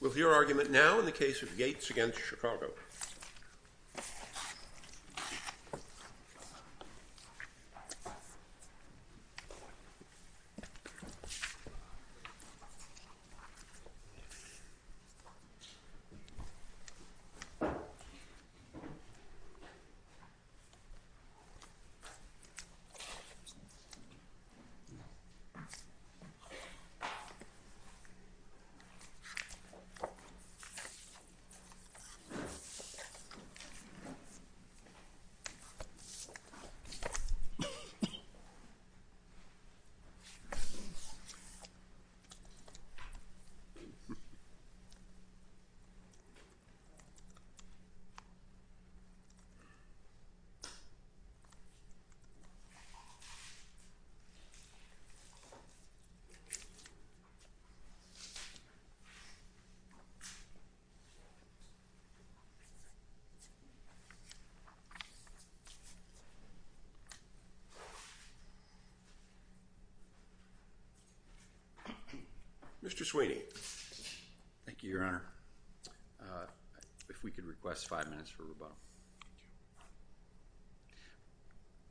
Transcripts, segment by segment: We'll hear argument now in the case of Yates v. Chicago. Yates v. Chicago Mr. Sweeney. Thank you, Your Honor. If we could request five minutes for rebuttal. Thank you.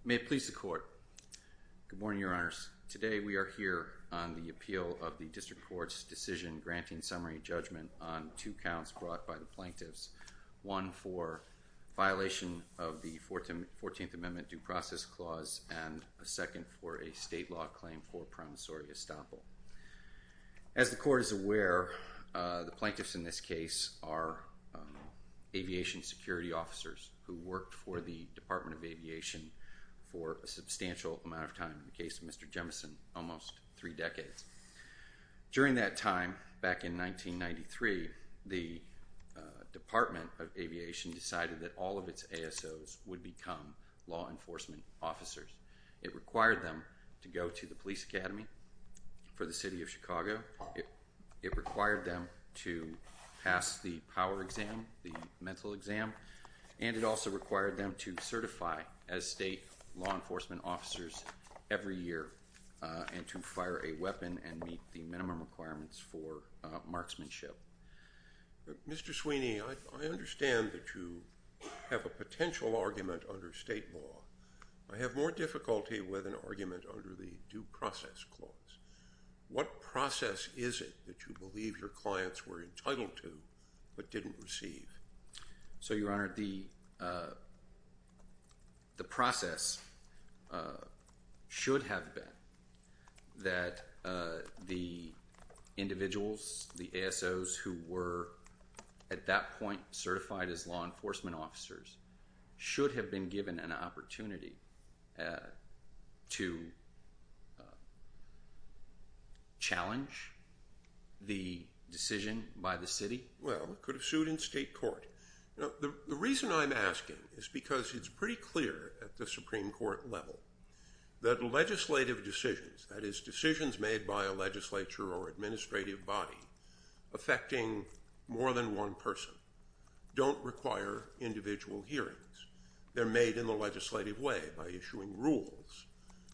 May it please the Court. Good morning, Your Honors. Today, we are here on the appeal of the District Court's decision granting summary judgment on two counts brought by the plaintiffs. One for violation of the 14th Amendment due process clause and a second for a state law claim for promissory estoppel. As the Court is aware, the plaintiffs in this case are aviation security officers who worked for the Department of Aviation for a substantial amount of time. In the case of Mr. Jemison, almost three decades. During that time, back in 1993, the Department of Aviation decided that all of its ASOs would become law enforcement officers. It required them to go to the Police Academy for the City of Chicago. It required them to pass the power exam, the mental exam. And it also required them to certify as state law enforcement officers every year and to fire a weapon and meet the minimum requirements for marksmanship. Mr. Sweeney, I understand that you have a potential argument under state law. I have more difficulty with an argument under the due process clause. What process is it that you believe your clients were entitled to but didn't receive? So, Your Honor, the process should have been that the individuals, the ASOs, who were at that point certified as law enforcement officers should have been given an opportunity to challenge the decision by the city. Well, it could have sued in state court. The reason I'm asking is because it's pretty clear at the Supreme Court level that legislative decisions, that is, decisions made by a legislature or administrative body affecting more than one person, don't require individual hearings. They're made in the legislative way by issuing rules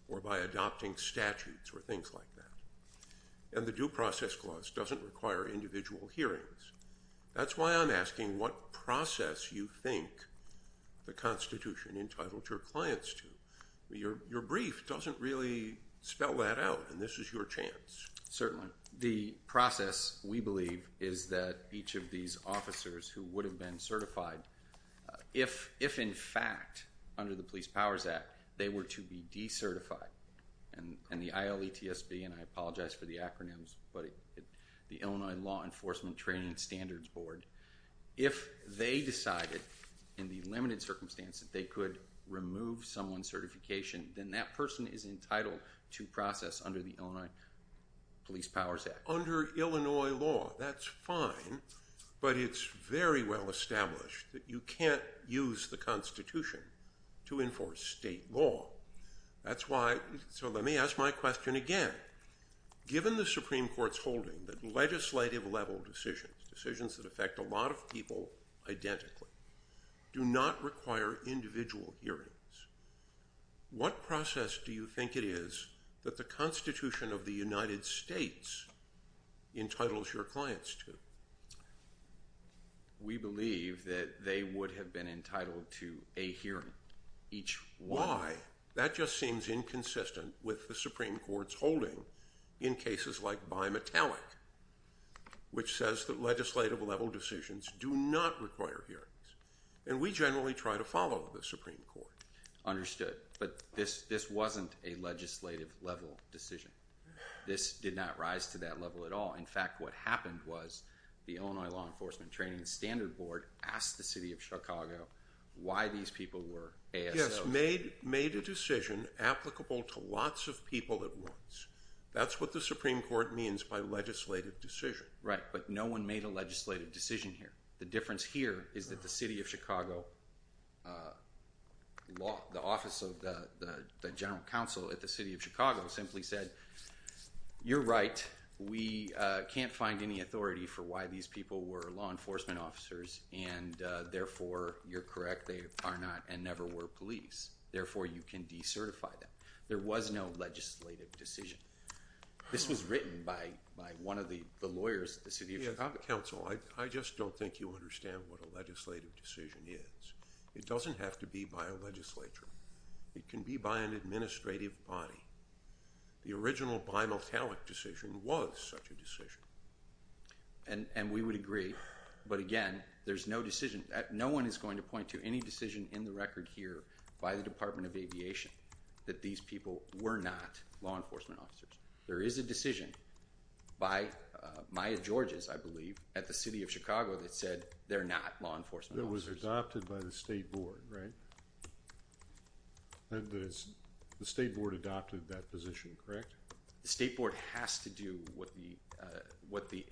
or by adopting statutes or things like that. And the due process clause doesn't require individual hearings. That's why I'm asking what process you think the Constitution entitled your clients to. Your brief doesn't really spell that out, and this is your chance. Certainly. The process, we believe, is that each of these officers who would have been certified, if in fact under the Police Powers Act they were to be decertified, and the ILETSB, and I apologize for the acronyms, but the Illinois Law Enforcement Training Standards Board, if they decided in the limited circumstance that they could remove someone's certification, then that person is entitled to process under the Illinois Police Powers Act. Under Illinois law, that's fine, but it's very well established that you can't use the Constitution to enforce state law. That's why, so let me ask my question again. Given the Supreme Court's holding that legislative level decisions, decisions that affect a lot of people identically, do not require individual hearings, what process do you think it is that the Constitution of the United States entitles your clients to? We believe that they would have been entitled to a hearing. Why? That just seems inconsistent with the Supreme Court's holding in cases like Bimetallic, which says that legislative level decisions do not require hearings, and we generally try to follow the Supreme Court. Understood, but this wasn't a legislative level decision. This did not rise to that level at all. In fact, what happened was the Illinois Law Enforcement Training Standards Board asked the City of Chicago why these people were ASOs. Yes, made a decision applicable to lots of people at once. That's what the Supreme Court means by legislative decision. Right, but no one made a legislative decision here. The difference here is that the City of Chicago, the office of the General Counsel at the City of Chicago simply said, you're right, we can't find any authority for why these people were law enforcement officers, and therefore, you're correct, they are not and never were police. Therefore, you can decertify them. There was no legislative decision. This was written by one of the lawyers at the City of Chicago. Counsel, I just don't think you understand what a legislative decision is. It doesn't have to be by a legislature. It can be by an administrative body. The original bimetallic decision was such a decision. And we would agree, but again, there's no decision. No one is going to point to any decision in the record here by the Department of Aviation that these people were not law enforcement officers. There is a decision by Maya Georges, I believe, at the City of Chicago that said they're not law enforcement officers. It was adopted by the State Board, right? The State Board adopted that position, correct? The State Board has to do what the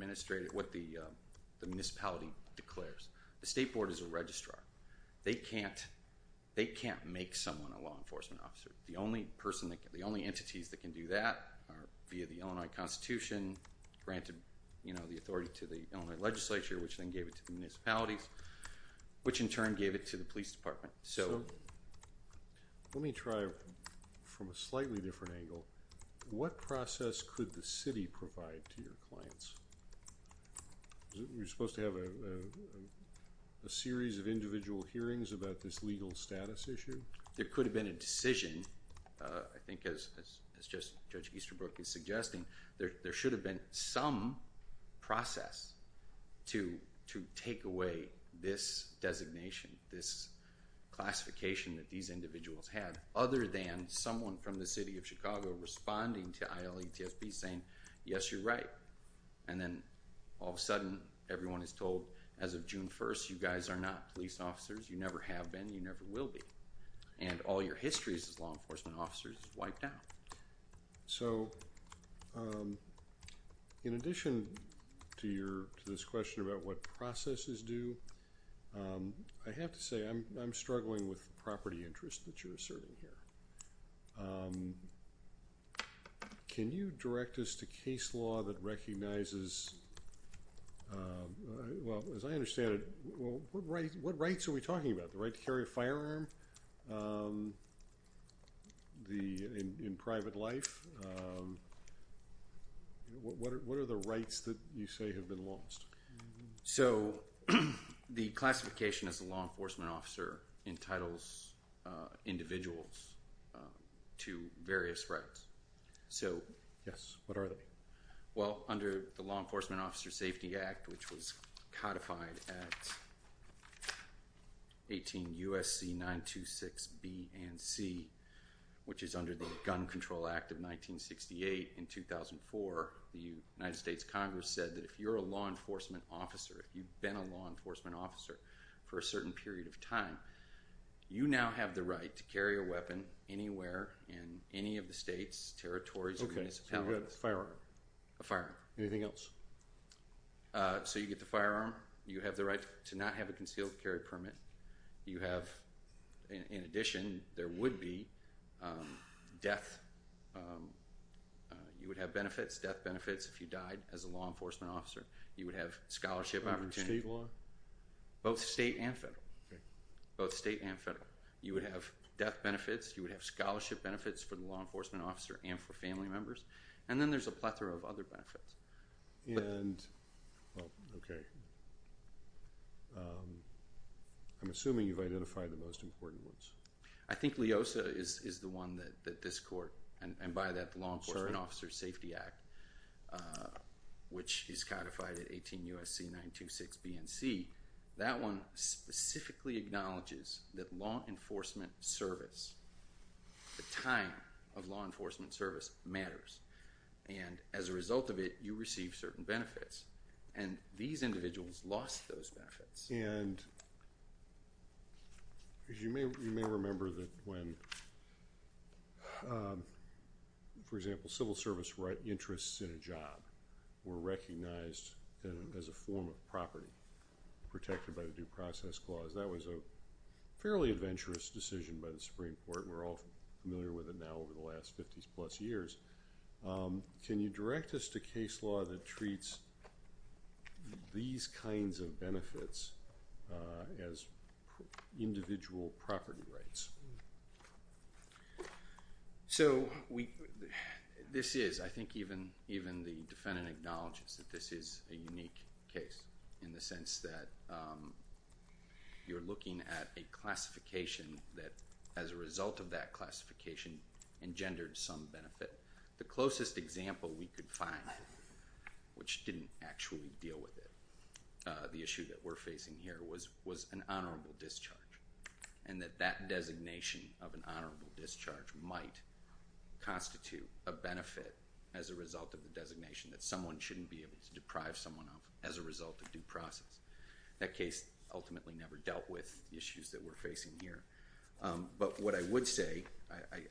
municipality declares. The State Board is a registrar. They can't make someone a law enforcement officer. The only entities that can do that are via the Illinois Constitution, granted the authority to the Illinois legislature, which then gave it to the municipalities, which in turn gave it to the police department. Let me try from a slightly different angle. What process could the city provide to your clients? You're supposed to have a series of individual hearings about this legal status issue? There could have been a decision. I think as Judge Easterbrook is suggesting, there should have been some process to take away this designation, this classification that these individuals had, other than someone from the City of Chicago responding to ILETSB saying, yes, you're right, and then all of a sudden everyone is told, as of June 1st, you guys are not police officers. You never have been. You never will be, and all your history as law enforcement officers is wiped out. So in addition to this question about what processes do, I have to say I'm struggling with the property interest that you're asserting here. Can you direct us to case law that recognizes, well, as I understand it, what rights are we talking about, the right to carry a firearm? In private life, what are the rights that you say have been lost? So the classification as a law enforcement officer entitles individuals to various rights. Yes, what are they? Well, under the Law Enforcement Officer Safety Act, which was codified at 18 U.S.C. 926 B and C, which is under the Gun Control Act of 1968 in 2004, the United States Congress said that if you're a law enforcement officer, if you've been a law enforcement officer for a certain period of time, you now have the right to carry a weapon anywhere in any of the states, territories, municipalities. Okay, so you have a firearm. A firearm. Anything else? So you get the firearm. You have the right to not have a concealed carry permit. You have, in addition, there would be death. You would have benefits, death benefits, if you died as a law enforcement officer. You would have scholarship opportunity. Under state law? Both state and federal. Okay. Both state and federal. You would have death benefits. You would have scholarship benefits for the law enforcement officer and for family members. And then there's a plethora of other benefits. Okay. I'm assuming you've identified the most important ones. I think LEOSA is the one that this court, and by that Law Enforcement Officer Safety Act, which is codified at 18 U.S.C. 926 B and C, that one specifically acknowledges that law enforcement service, the time of law enforcement service, matters. And as a result of it, you receive certain benefits. And these individuals lost those benefits. And you may remember that when, for example, civil service interests in a job were recognized as a form of property protected by the Due Process Clause, that was a fairly adventurous decision by the Supreme Court, and we're all familiar with it now over the last 50-plus years. Can you direct us to case law that treats these kinds of benefits as individual property rights? Yes. So this is, I think even the defendant acknowledges that this is a unique case in the sense that you're looking at a classification that, as a result of that classification, engendered some benefit. The closest example we could find, which didn't actually deal with it, the issue that we're facing here, was an honorable discharge, and that that designation of an honorable discharge might constitute a benefit as a result of the designation that someone shouldn't be able to deprive someone of as a result of due process. That case ultimately never dealt with the issues that we're facing here. But what I would say,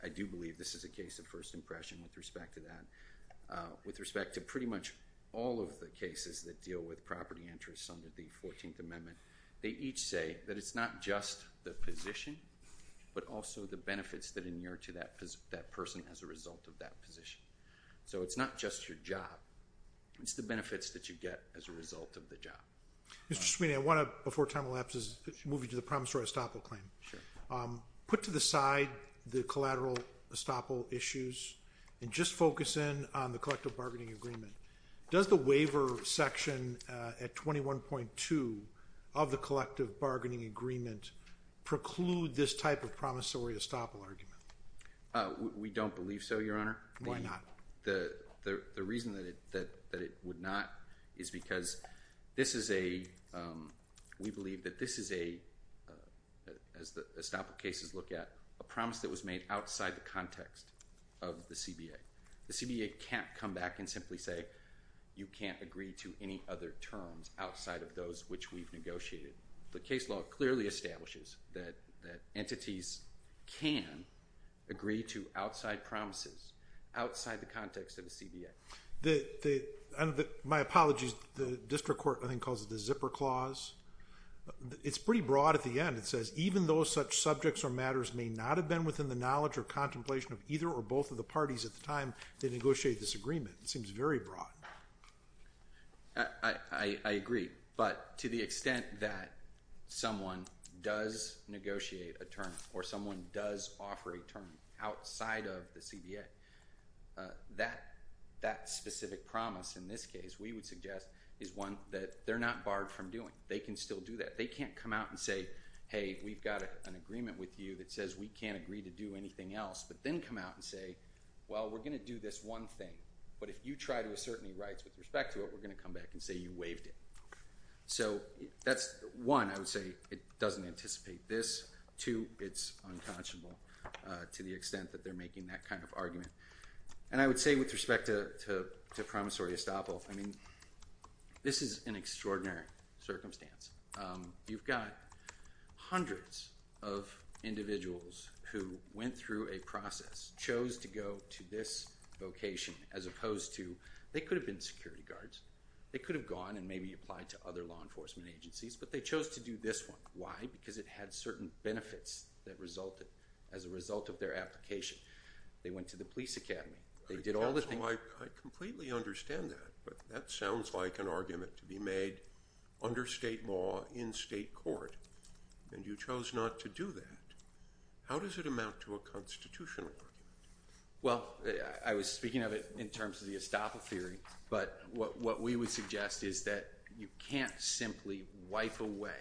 I do believe this is a case of first impression with respect to that. With respect to pretty much all of the cases that deal with property interests under the 14th Amendment, they each say that it's not just the position but also the benefits that inure to that person as a result of that position. So it's not just your job. It's the benefits that you get as a result of the job. Mr. Sweeney, I want to, before time elapses, move you to the promissory estoppel claim. Sure. Put to the side the collateral estoppel issues and just focus in on the collective bargaining agreement. Does the waiver section at 21.2 of the collective bargaining agreement preclude this type of promissory estoppel argument? We don't believe so, Your Honor. Why not? The reason that it would not is because this is a, we believe that this is a, as the estoppel cases look at, a promise that was made outside the context of the CBA. The CBA can't come back and simply say you can't agree to any other terms outside of those which we've negotiated. The case law clearly establishes that entities can agree to outside promises outside the context of the CBA. My apologies. The district court I think calls it the zipper clause. It's pretty broad at the end. It says even though such subjects or matters may not have been within the time they negotiated this agreement. It seems very broad. I agree. But to the extent that someone does negotiate a term or someone does offer a term outside of the CBA, that specific promise in this case we would suggest is one that they're not barred from doing. They can still do that. They can't come out and say, hey, we've got an agreement with you that says we can't agree to do anything else, but then come out and say, well, we're going to do this one thing. But if you try to assert any rights with respect to it, we're going to come back and say you waived it. So that's one. I would say it doesn't anticipate this. Two, it's unconscionable to the extent that they're making that kind of argument. And I would say with respect to promissory estoppel, I mean this is an extraordinary circumstance. You've got hundreds of individuals who went through a process, chose to go to this vocation as opposed to, they could have been security guards. They could have gone and maybe applied to other law enforcement agencies, but they chose to do this one. Why? Because it had certain benefits that resulted as a result of their application. They went to the police academy. They did all the things. I completely understand that, but that sounds like an argument to be made under state law in state court and you chose not to do that. How does it amount to a constitutional argument? Well, I was speaking of it in terms of the estoppel theory, but what we would suggest is that you can't simply wipe away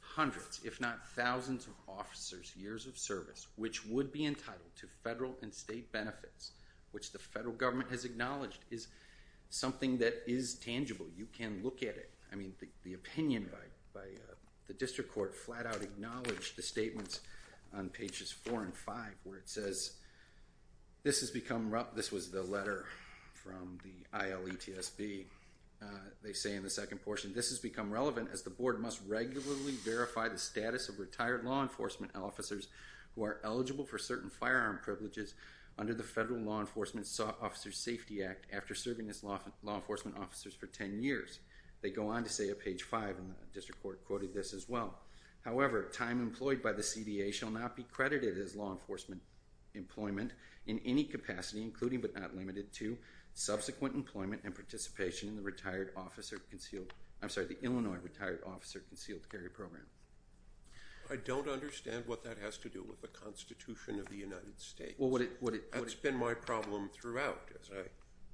hundreds, if not thousands of officers, years of service, which would be entitled to federal and state benefits, which the federal government has acknowledged is something that is tangible. You can look at it. I mean, the opinion by the district court flat out acknowledged the statements on pages four and five where it says, this has become rough. This was the letter from the ILETSB. They say in the second portion, this has become relevant as the board must regularly verify the status of retired law enforcement officers who are eligible for certain firearm privileges under the federal law enforcement officers safety act. After serving as law law enforcement officers for 10 years, they go on to say a page five on the district court quoted this as well. However, time employed by the CDA shall not be credited as law enforcement employment in any capacity, including but not limited to subsequent employment and participation in the retired officer concealed. I'm sorry, the Illinois retired officer concealed carry program. I don't understand what that has to do with the constitution of the United States. That's been my problem throughout as I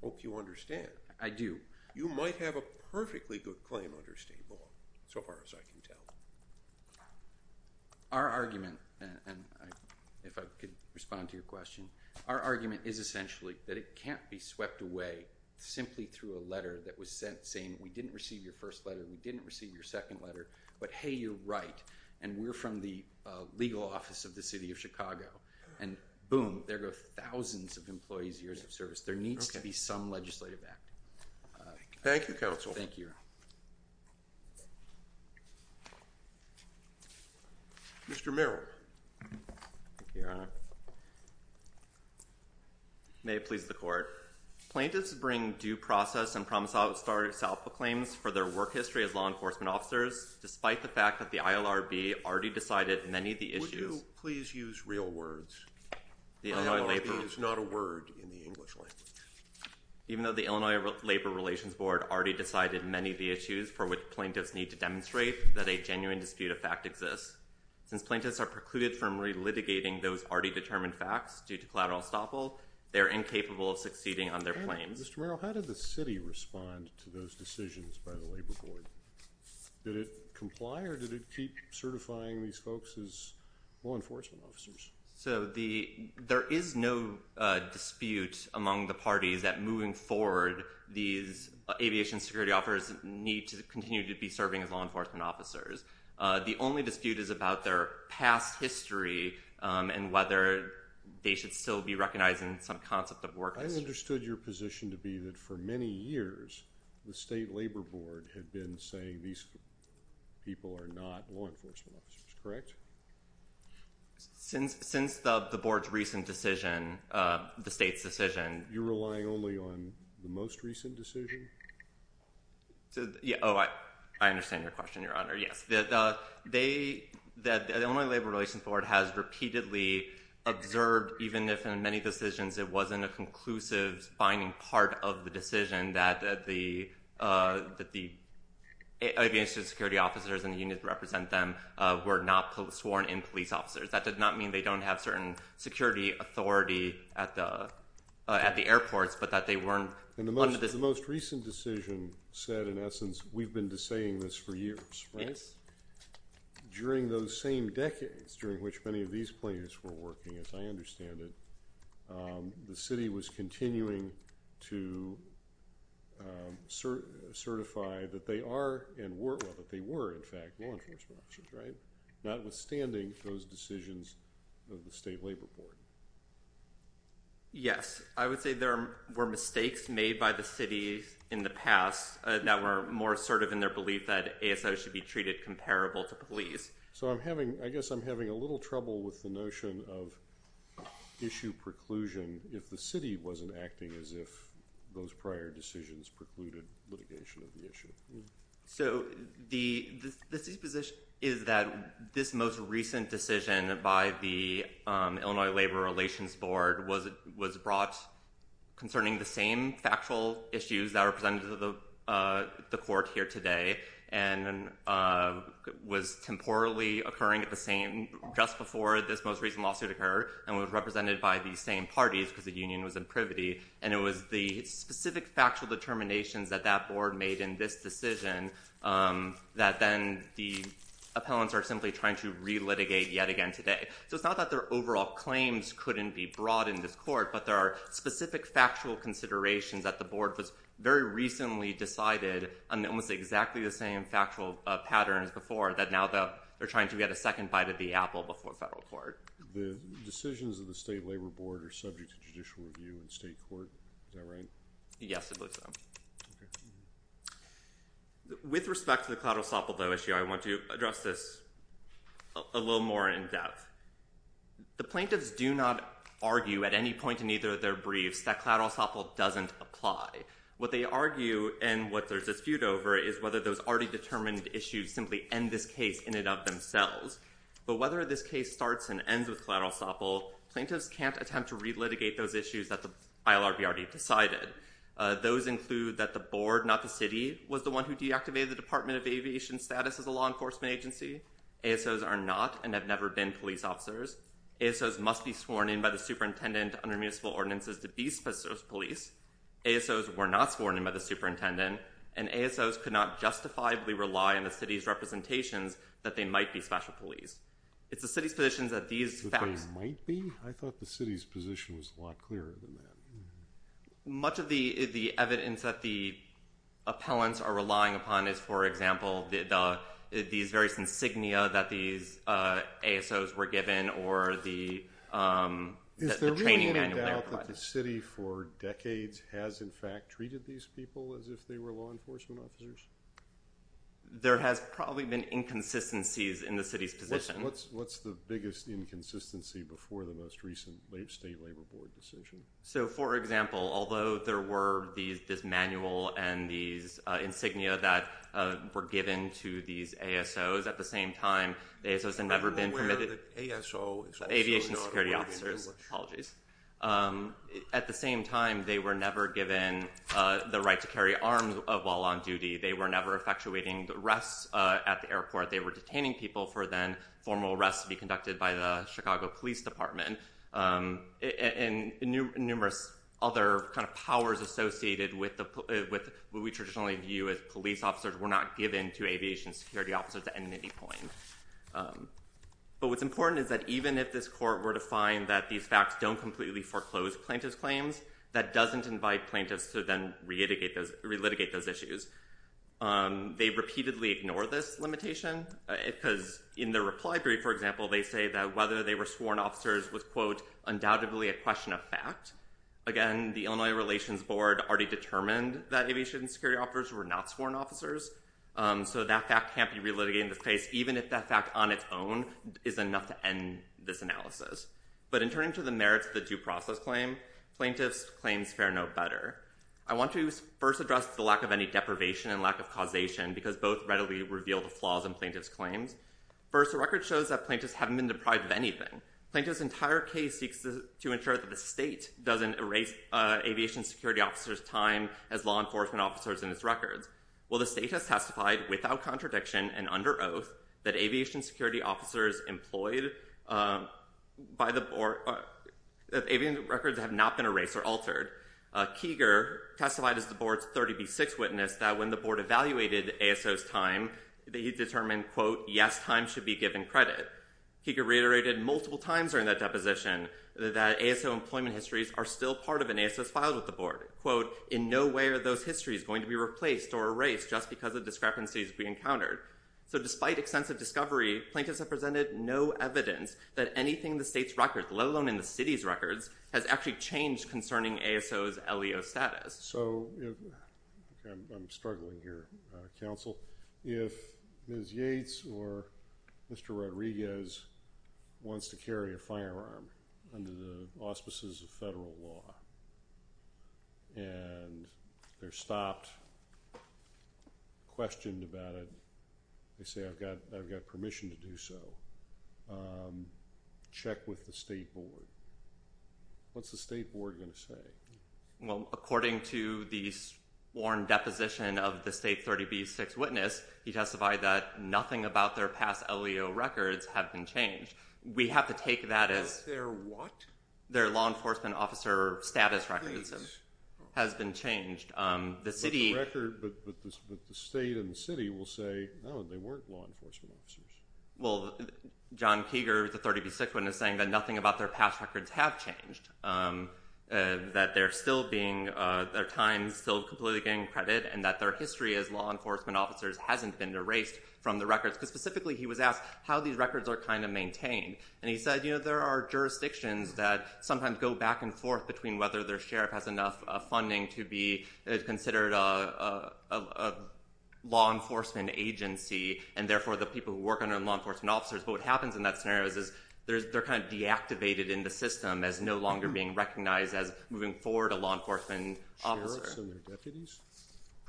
hope you understand. I do. You might have a perfectly good claim under state law. So far as I can tell our argument. And if I could respond to your question, our argument is essentially that it can't be swept away simply through a letter that was sent saying, we didn't receive your first letter. We didn't receive your second letter, but Hey, you're right. And we're from the legal office of the city of Chicago and boom, there go thousands of employees, years of service. There needs to be some legislative act. Thank you. Counsel. Thank you. Mr. Merrill. Yeah. May it please the court plaintiffs bring due process and promise. I'll start itself with claims for their work history as law enforcement officers. Despite the fact that the ILRB already decided many of the issues, please use real words. It's not a word in the English language, even though the Illinois labor relations board already decided many of the issues for which plaintiffs need to demonstrate that a genuine dispute of fact exists. Since plaintiffs are precluded from relitigating those already determined facts due to collateral estoppel, they're incapable of succeeding on their claims. Mr. Merrill, how did the city respond to those decisions by the labor board? Did it comply? Or did it keep certifying? The only thing they're saying these folks is law enforcement officers. So the, there is no dispute among the parties that moving forward, these aviation security offers need to continue to be serving as law enforcement officers. Uh, the only dispute is about their past history, um, and whether they should still be recognized in some concept of work. I understood your position to be that for many years, the state labor board had been saying these people are not law enforcement officers, correct? Since, since the, the board's recent decision, uh, the state's decision, you're relying only on the most recent decision. So, yeah. Oh, I, I understand your question, your honor. Yes. They, that the only labor relations board has repeatedly observed, even if in many decisions, it wasn't a conclusive finding part of the decision that, that the, uh, that the aviation security officers and the unions represent them, uh, were not sworn in police officers. That does not mean they don't have certain security authority at the, uh, at the airports, but that they weren't in the most, the most recent decision said, in essence, we've been saying this for years, right? During those same decades, during which many of these players were working, as I understand it, um, the city was continuing to, um, sir, certify that they are and were, well, that they were in fact, law enforcement officers, right? Not withstanding those decisions of the state labor board. Yes. I would say there were mistakes made by the city in the past that were more assertive in their belief that ASO should be treated comparable to police. So I'm having, I guess I'm having a little trouble with the notion of issue preclusion. If the city wasn't acting as if those prior decisions precluded litigation of the issue. So the, the disposition is that this most recent decision by the, um, Illinois labor relations board was, was brought concerning the same factual issues that are presented to the, uh, the court here today. And, uh, was temporally occurring at the same, just before this most recent lawsuit occurred and was represented by the same parties because the union was in privity. And it was the specific factual determinations that that board made in this decision, um, that then the appellants are simply trying to relitigate yet again today. So it's not that their overall claims couldn't be brought in this court, but there are specific factual considerations that the board was very recently decided on almost exactly the same factual patterns before that. Now that they're trying to get a second bite of the apple before federal court, the decisions of the state labor board are subject to judicial review and state court. Is that right? Yes, I believe so. Okay. With respect to the cloud, we'll stop with that issue. I want to address this a little more in depth. The plaintiffs do not argue at any point in either of their briefs that cloud also doesn't apply what they argue. And what there's a dispute over is whether those already determined issues simply end this case in and of themselves, but whether this case starts and ends with collateral sample, plaintiffs can't attempt to relitigate those issues that the ILRB already decided. Uh, those include that the board, not the city was the one who deactivated the department of aviation status as a law enforcement agency. ASOs are not, and have never been police officers. ASOs must be sworn in by the superintendent under municipal ordinances to be special police. ASOs were not sworn in by the superintendent and ASOs could not justifiably rely on the city's representations that they might be special police. It's the city's positions that these facts might be. I thought the city's position was a lot clearer than that. Much of the, the evidence that the appellants are relying upon is, for example, the, these various insignia that these, uh, ASOs were given or the, um, the training manual. The city for decades has in fact treated these people as if they were law enforcement officers. There has probably been inconsistencies in the city's position. What's, what's the biggest inconsistency before the most recent state labor board decision. So for example, although there were these, this manual and these, uh, insignia that, uh, were given to these ASOs at the same time, they, so it's never been permitted. ASO aviation security officers. Apologies. Um, at the same time, they were never given, uh, the right to carry arms while on duty. They were never effectuating the arrests, uh, at the airport. They were detaining people for then formal arrests to be conducted by the Chicago police department. Um, and numerous other kind of powers associated with the, with what we traditionally view as police officers were not given to aviation security officers at any point. Um, but what's important is that even if this court were to find that these facts don't completely foreclose plaintiff's claims, that doesn't invite plaintiffs to then reitigate those, re-litigate those issues. Um, they repeatedly ignore this limitation, uh, because in the reply brief, for example, they say that whether they were sworn officers was quote, undoubtedly a question of fact. Again, the Illinois relations board already determined that aviation security officers were not sworn officers. Um, so that fact can't be re-litigated in this case, even if that fact on its own is enough to end this analysis. But in turning to the merits of the due process claim, plaintiffs claims fair no better. I want to first address the lack of any deprivation and lack of causation because both readily reveal the flaws in plaintiff's claims. First, the record shows that plaintiffs haven't been deprived of anything. Plaintiff's entire case seeks to ensure that the state doesn't erase, uh, aviation security officers time as law enforcement officers in its records. Well, the state has testified without contradiction and under oath that aviation security officers employed, um, by the board, uh, that avian records have not been erased or altered. Uh, Keiger testified as the board's 30 B six witness that when the board evaluated ASO's time, they determined quote, yes, time should be given credit. He could reiterate it multiple times during that deposition, that ASO employment histories are still part of an ASO filed with the board quote in no way are those histories going to be replaced or erased just because of discrepancies we encountered. So despite extensive discovery, plaintiffs have presented no evidence that anything in the state's records, let alone in the city's records has actually changed concerning ASO's LEO status. So I'm struggling here. Uh, counsel, if Ms. Yates or Mr. Rodriguez wants to carry a firearm under the auspices of federal law and they're stopped questioned about it. They say, I've got, I've got permission to do so. Um, check with the state board. What's the state board going to say? Well, according to the sworn deposition of the state 30 B six witness, he testified that nothing about their past LEO records have been changed. We have to take that as their, what their law enforcement officer status records has been changed. Um, the city record, but the state and the city will say, Oh, they weren't law enforcement officers. Well, John Keeger, the 30 B six one is saying that nothing about their past records have changed, um, uh, that they're still being, uh, their time's still completely getting credit and that their history as law enforcement officers hasn't been erased from the records. Cause specifically he was asked how these records are kind of maintained. And he said, you know, there are jurisdictions that sometimes go back and forth between whether their sheriff has enough funding to be considered, uh, uh, uh, law enforcement agency. And therefore the people who work under law enforcement officers, but what happens in that scenario is, is there's, they're kind of deactivated in the system as no longer being recognized as moving forward. A law enforcement officer deputies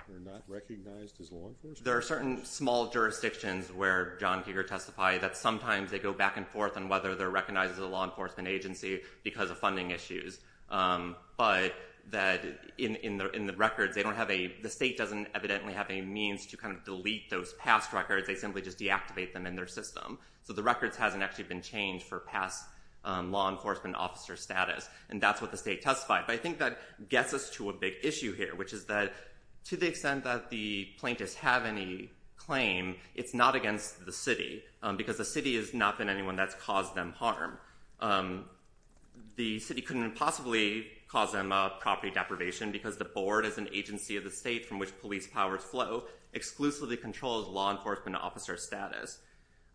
are not recognized as law enforcement. There are certain small jurisdictions where John Keeger testify that sometimes they go back and forth on whether they're recognized as a law enforcement agency because of funding issues. Um, but that in, in the, in the records, they don't have a, the state doesn't evidently have any means to kind of delete those past records. They simply just deactivate them in their system. So the records hasn't actually been changed for past, um, law enforcement officer status. And that's what the state testified. But I think that gets us to a big issue here, which is that to the extent that the plaintiffs have any claim, it's not against the city. Um, because the city has not been anyone that's caused them harm. Um, the city couldn't possibly cause them a property deprivation because the board is an agency of the state from which police powers flow exclusively controls law enforcement officer status.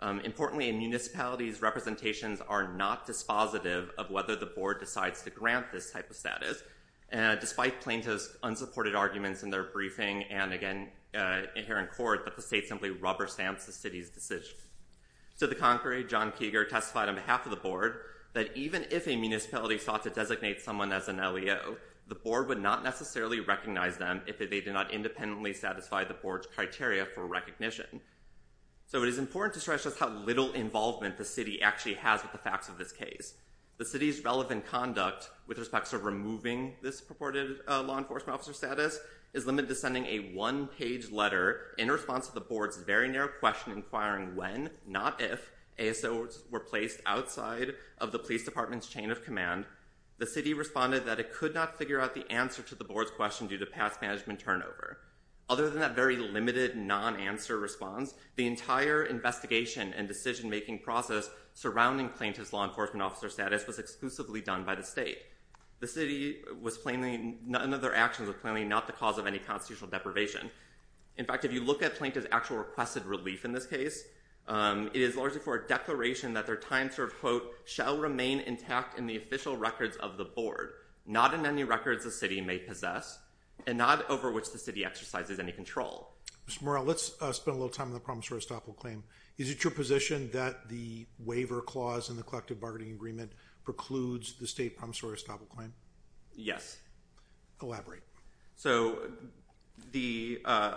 Um, importantly in municipalities, representations are not dispositive of whether the board decides to grant this type of status. And despite plaintiffs unsupported arguments in their briefing. And again, uh, in here in court, but the state simply rubber stamps, the city's decision. So the concrete John Keeger testified on behalf of the board that even if a municipality sought to designate someone as an LEO, the board would not necessarily recognize them if they did not independently satisfy the porch criteria for recognition. So it is important to stress just how little involvement the city actually has with the facts of this case. The city's relevant conduct with respects to removing this purported, uh, law enforcement officer status is limited to sending a one page letter in response to the board's very narrow question, inquiring when not if ASOs were placed outside of the police department's chain of command. The city responded that it could not figure out the answer to the board's question due to past management turnover. Other than that very limited non-answer response, the entire investigation and decision-making process surrounding plaintiff's law enforcement officer status was exclusively done by the state. The city was plainly none of their actions are plainly not the cause of any constitutional deprivation. In fact, if you look at plaintiff's actual requested relief in this case, um, it is largely for a declaration that their time serve quote shall remain intact in the official records of the board, not in any records the city may possess and not over which the city exercises any control. Mr. Morrell, let's spend a little time on the promissory estoppel claim. Is it your position that the waiver clause in the collective bargaining agreement precludes the state promissory estoppel claim? Yes. Elaborate. So the, uh,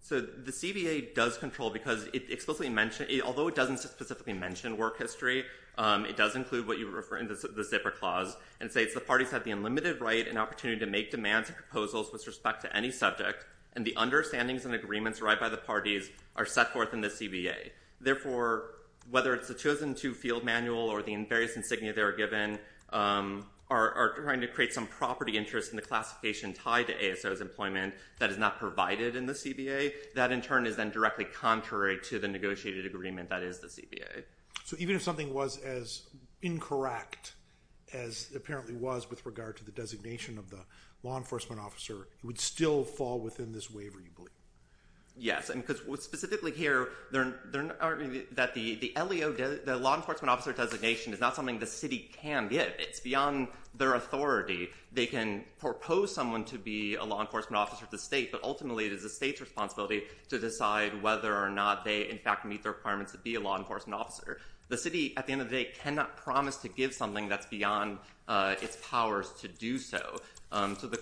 so the CBA does control because it explicitly mentioned it, although it doesn't specifically mention work history. Um, it does include what you were referring to the zipper clause and say it's the parties have the unlimited right and opportunity to make demands and proposals with respect to any subject and the understandings and agreements right by the parties are set forth in the CBA. Therefore, whether it's the chosen to field manual or the various insignia they were given, um, are trying to create some property interest in the classification tied to ASOs employment that is not provided in the CBA. That in turn is then directly contrary to the negotiated agreement that is the CBA. So even if something was as incorrect as apparently was with regard to the designation of the law enforcement officer, it would still fall within this waiver. You believe? Yes. And because what specifically here, they're, they're arguing that the, the LAO does the law enforcement officer designation is not something the city can get. It's beyond their authority. They can propose someone to be a law enforcement officer at the state, but ultimately it is the state's responsibility to decide whether or not they in fact meet their requirements to be a law enforcement officer. The city, at the end of the day cannot promise to give something that's beyond, uh, its powers to do so. Um, so the,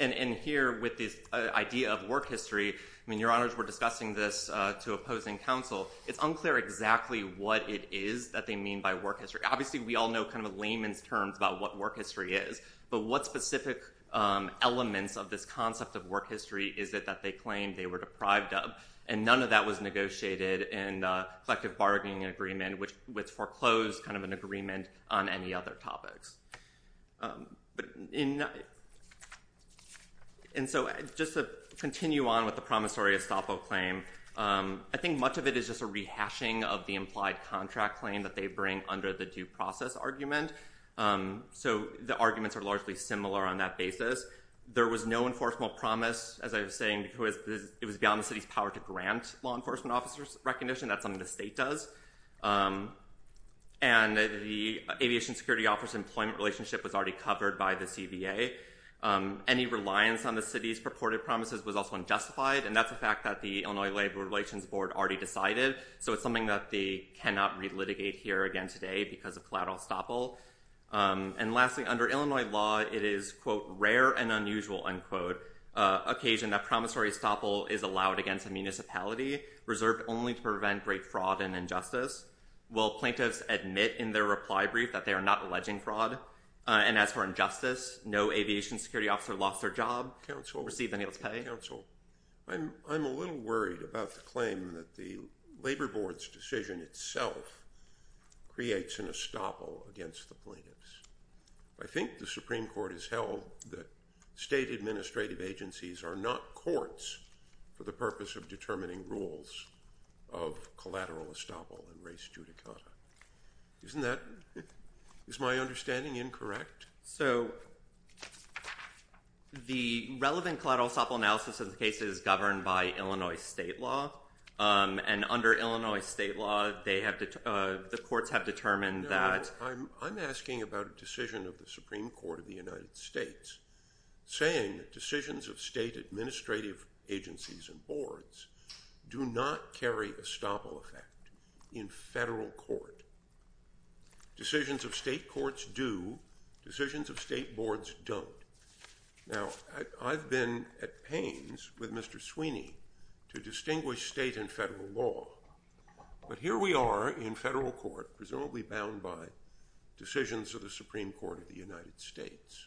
and, and here with this idea of work history, I mean, your honors were discussing this, uh, to opposing council. It's unclear exactly what it is that they mean by work history. Obviously we all know kind of a layman's terms about what work history is, but what specific, um, elements of this concept of work history is that, that they claimed they were deprived of. Uh, and none of that was negotiated and, uh, collective bargaining agreement, which was foreclosed kind of an agreement on any other topics. Um, but in, and so just to continue on with the promissory estoppel claim, um, I think much of it is just a rehashing of the implied contract claim that they bring under the due process argument. Um, so the arguments are largely similar on that basis. There was no enforceable promise, as I was saying, because it was beyond the city's power to grant law enforcement officers recognition. That's something the state does. Um, and the aviation security office employment relationship was already covered by the CBA. Um, any reliance on the city's purported promises was also unjustified. And that's a fact that the Illinois labor relations board already decided. So it's something that they cannot relitigate here again today because of collateral estoppel. Um, and lastly, under Illinois law, it is quote rare and unusual unquote, uh, occasion that promissory estoppel is allowed against the municipality reserved only to prevent great fraud and injustice. Well, plaintiffs admit in their reply brief that they are not alleging fraud. Uh, and as for injustice, no aviation security officer lost their job. Council received the nails pay council. I'm, I'm a little worried about the claim that the labor board's decision itself creates an estoppel against the plaintiffs. I think the Supreme court has held that state administrative agencies are not courts for the purpose of determining rules of collateral estoppel and race judicata. Isn't that is my understanding. Incorrect. So the relevant collateral estoppel analysis of the case is governed by Illinois state law. Um, and under Illinois state law, they have to, uh, the courts have determined that I'm, I'm asking about a decision of the Supreme court of the United States saying that decisions of state administrative agencies and boards do not carry a estoppel effect in federal court decisions of state courts do decisions of state boards don't. Now I've been at pains with Mr. Sweeney to distinguish state and federal law, but here we are in federal court, presumably bound by decisions of the Supreme court of the United States.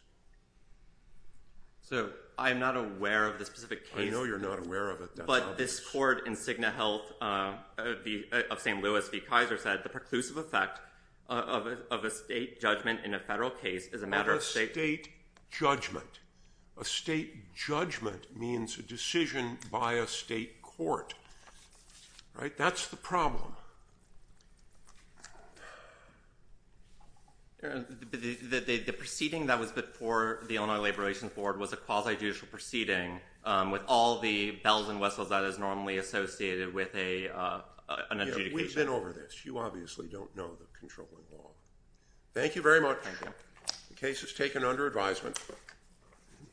So I'm not aware of the specific case. You're not aware of it, but this court insignia health, uh, the of St. Louis, the Kaiser said the preclusive effect of a, of a state judgment in a federal case is a matter of state judgment. That's the problem. Yeah. The, the, the proceeding that was before the Illinois labor relations board was a quasi-judicial proceeding, um, with all the bells and whistles that is normally associated with a, uh, an adjudication. We've been over this. You obviously don't know the controlling law. Thank you very much. The case has taken under advisement.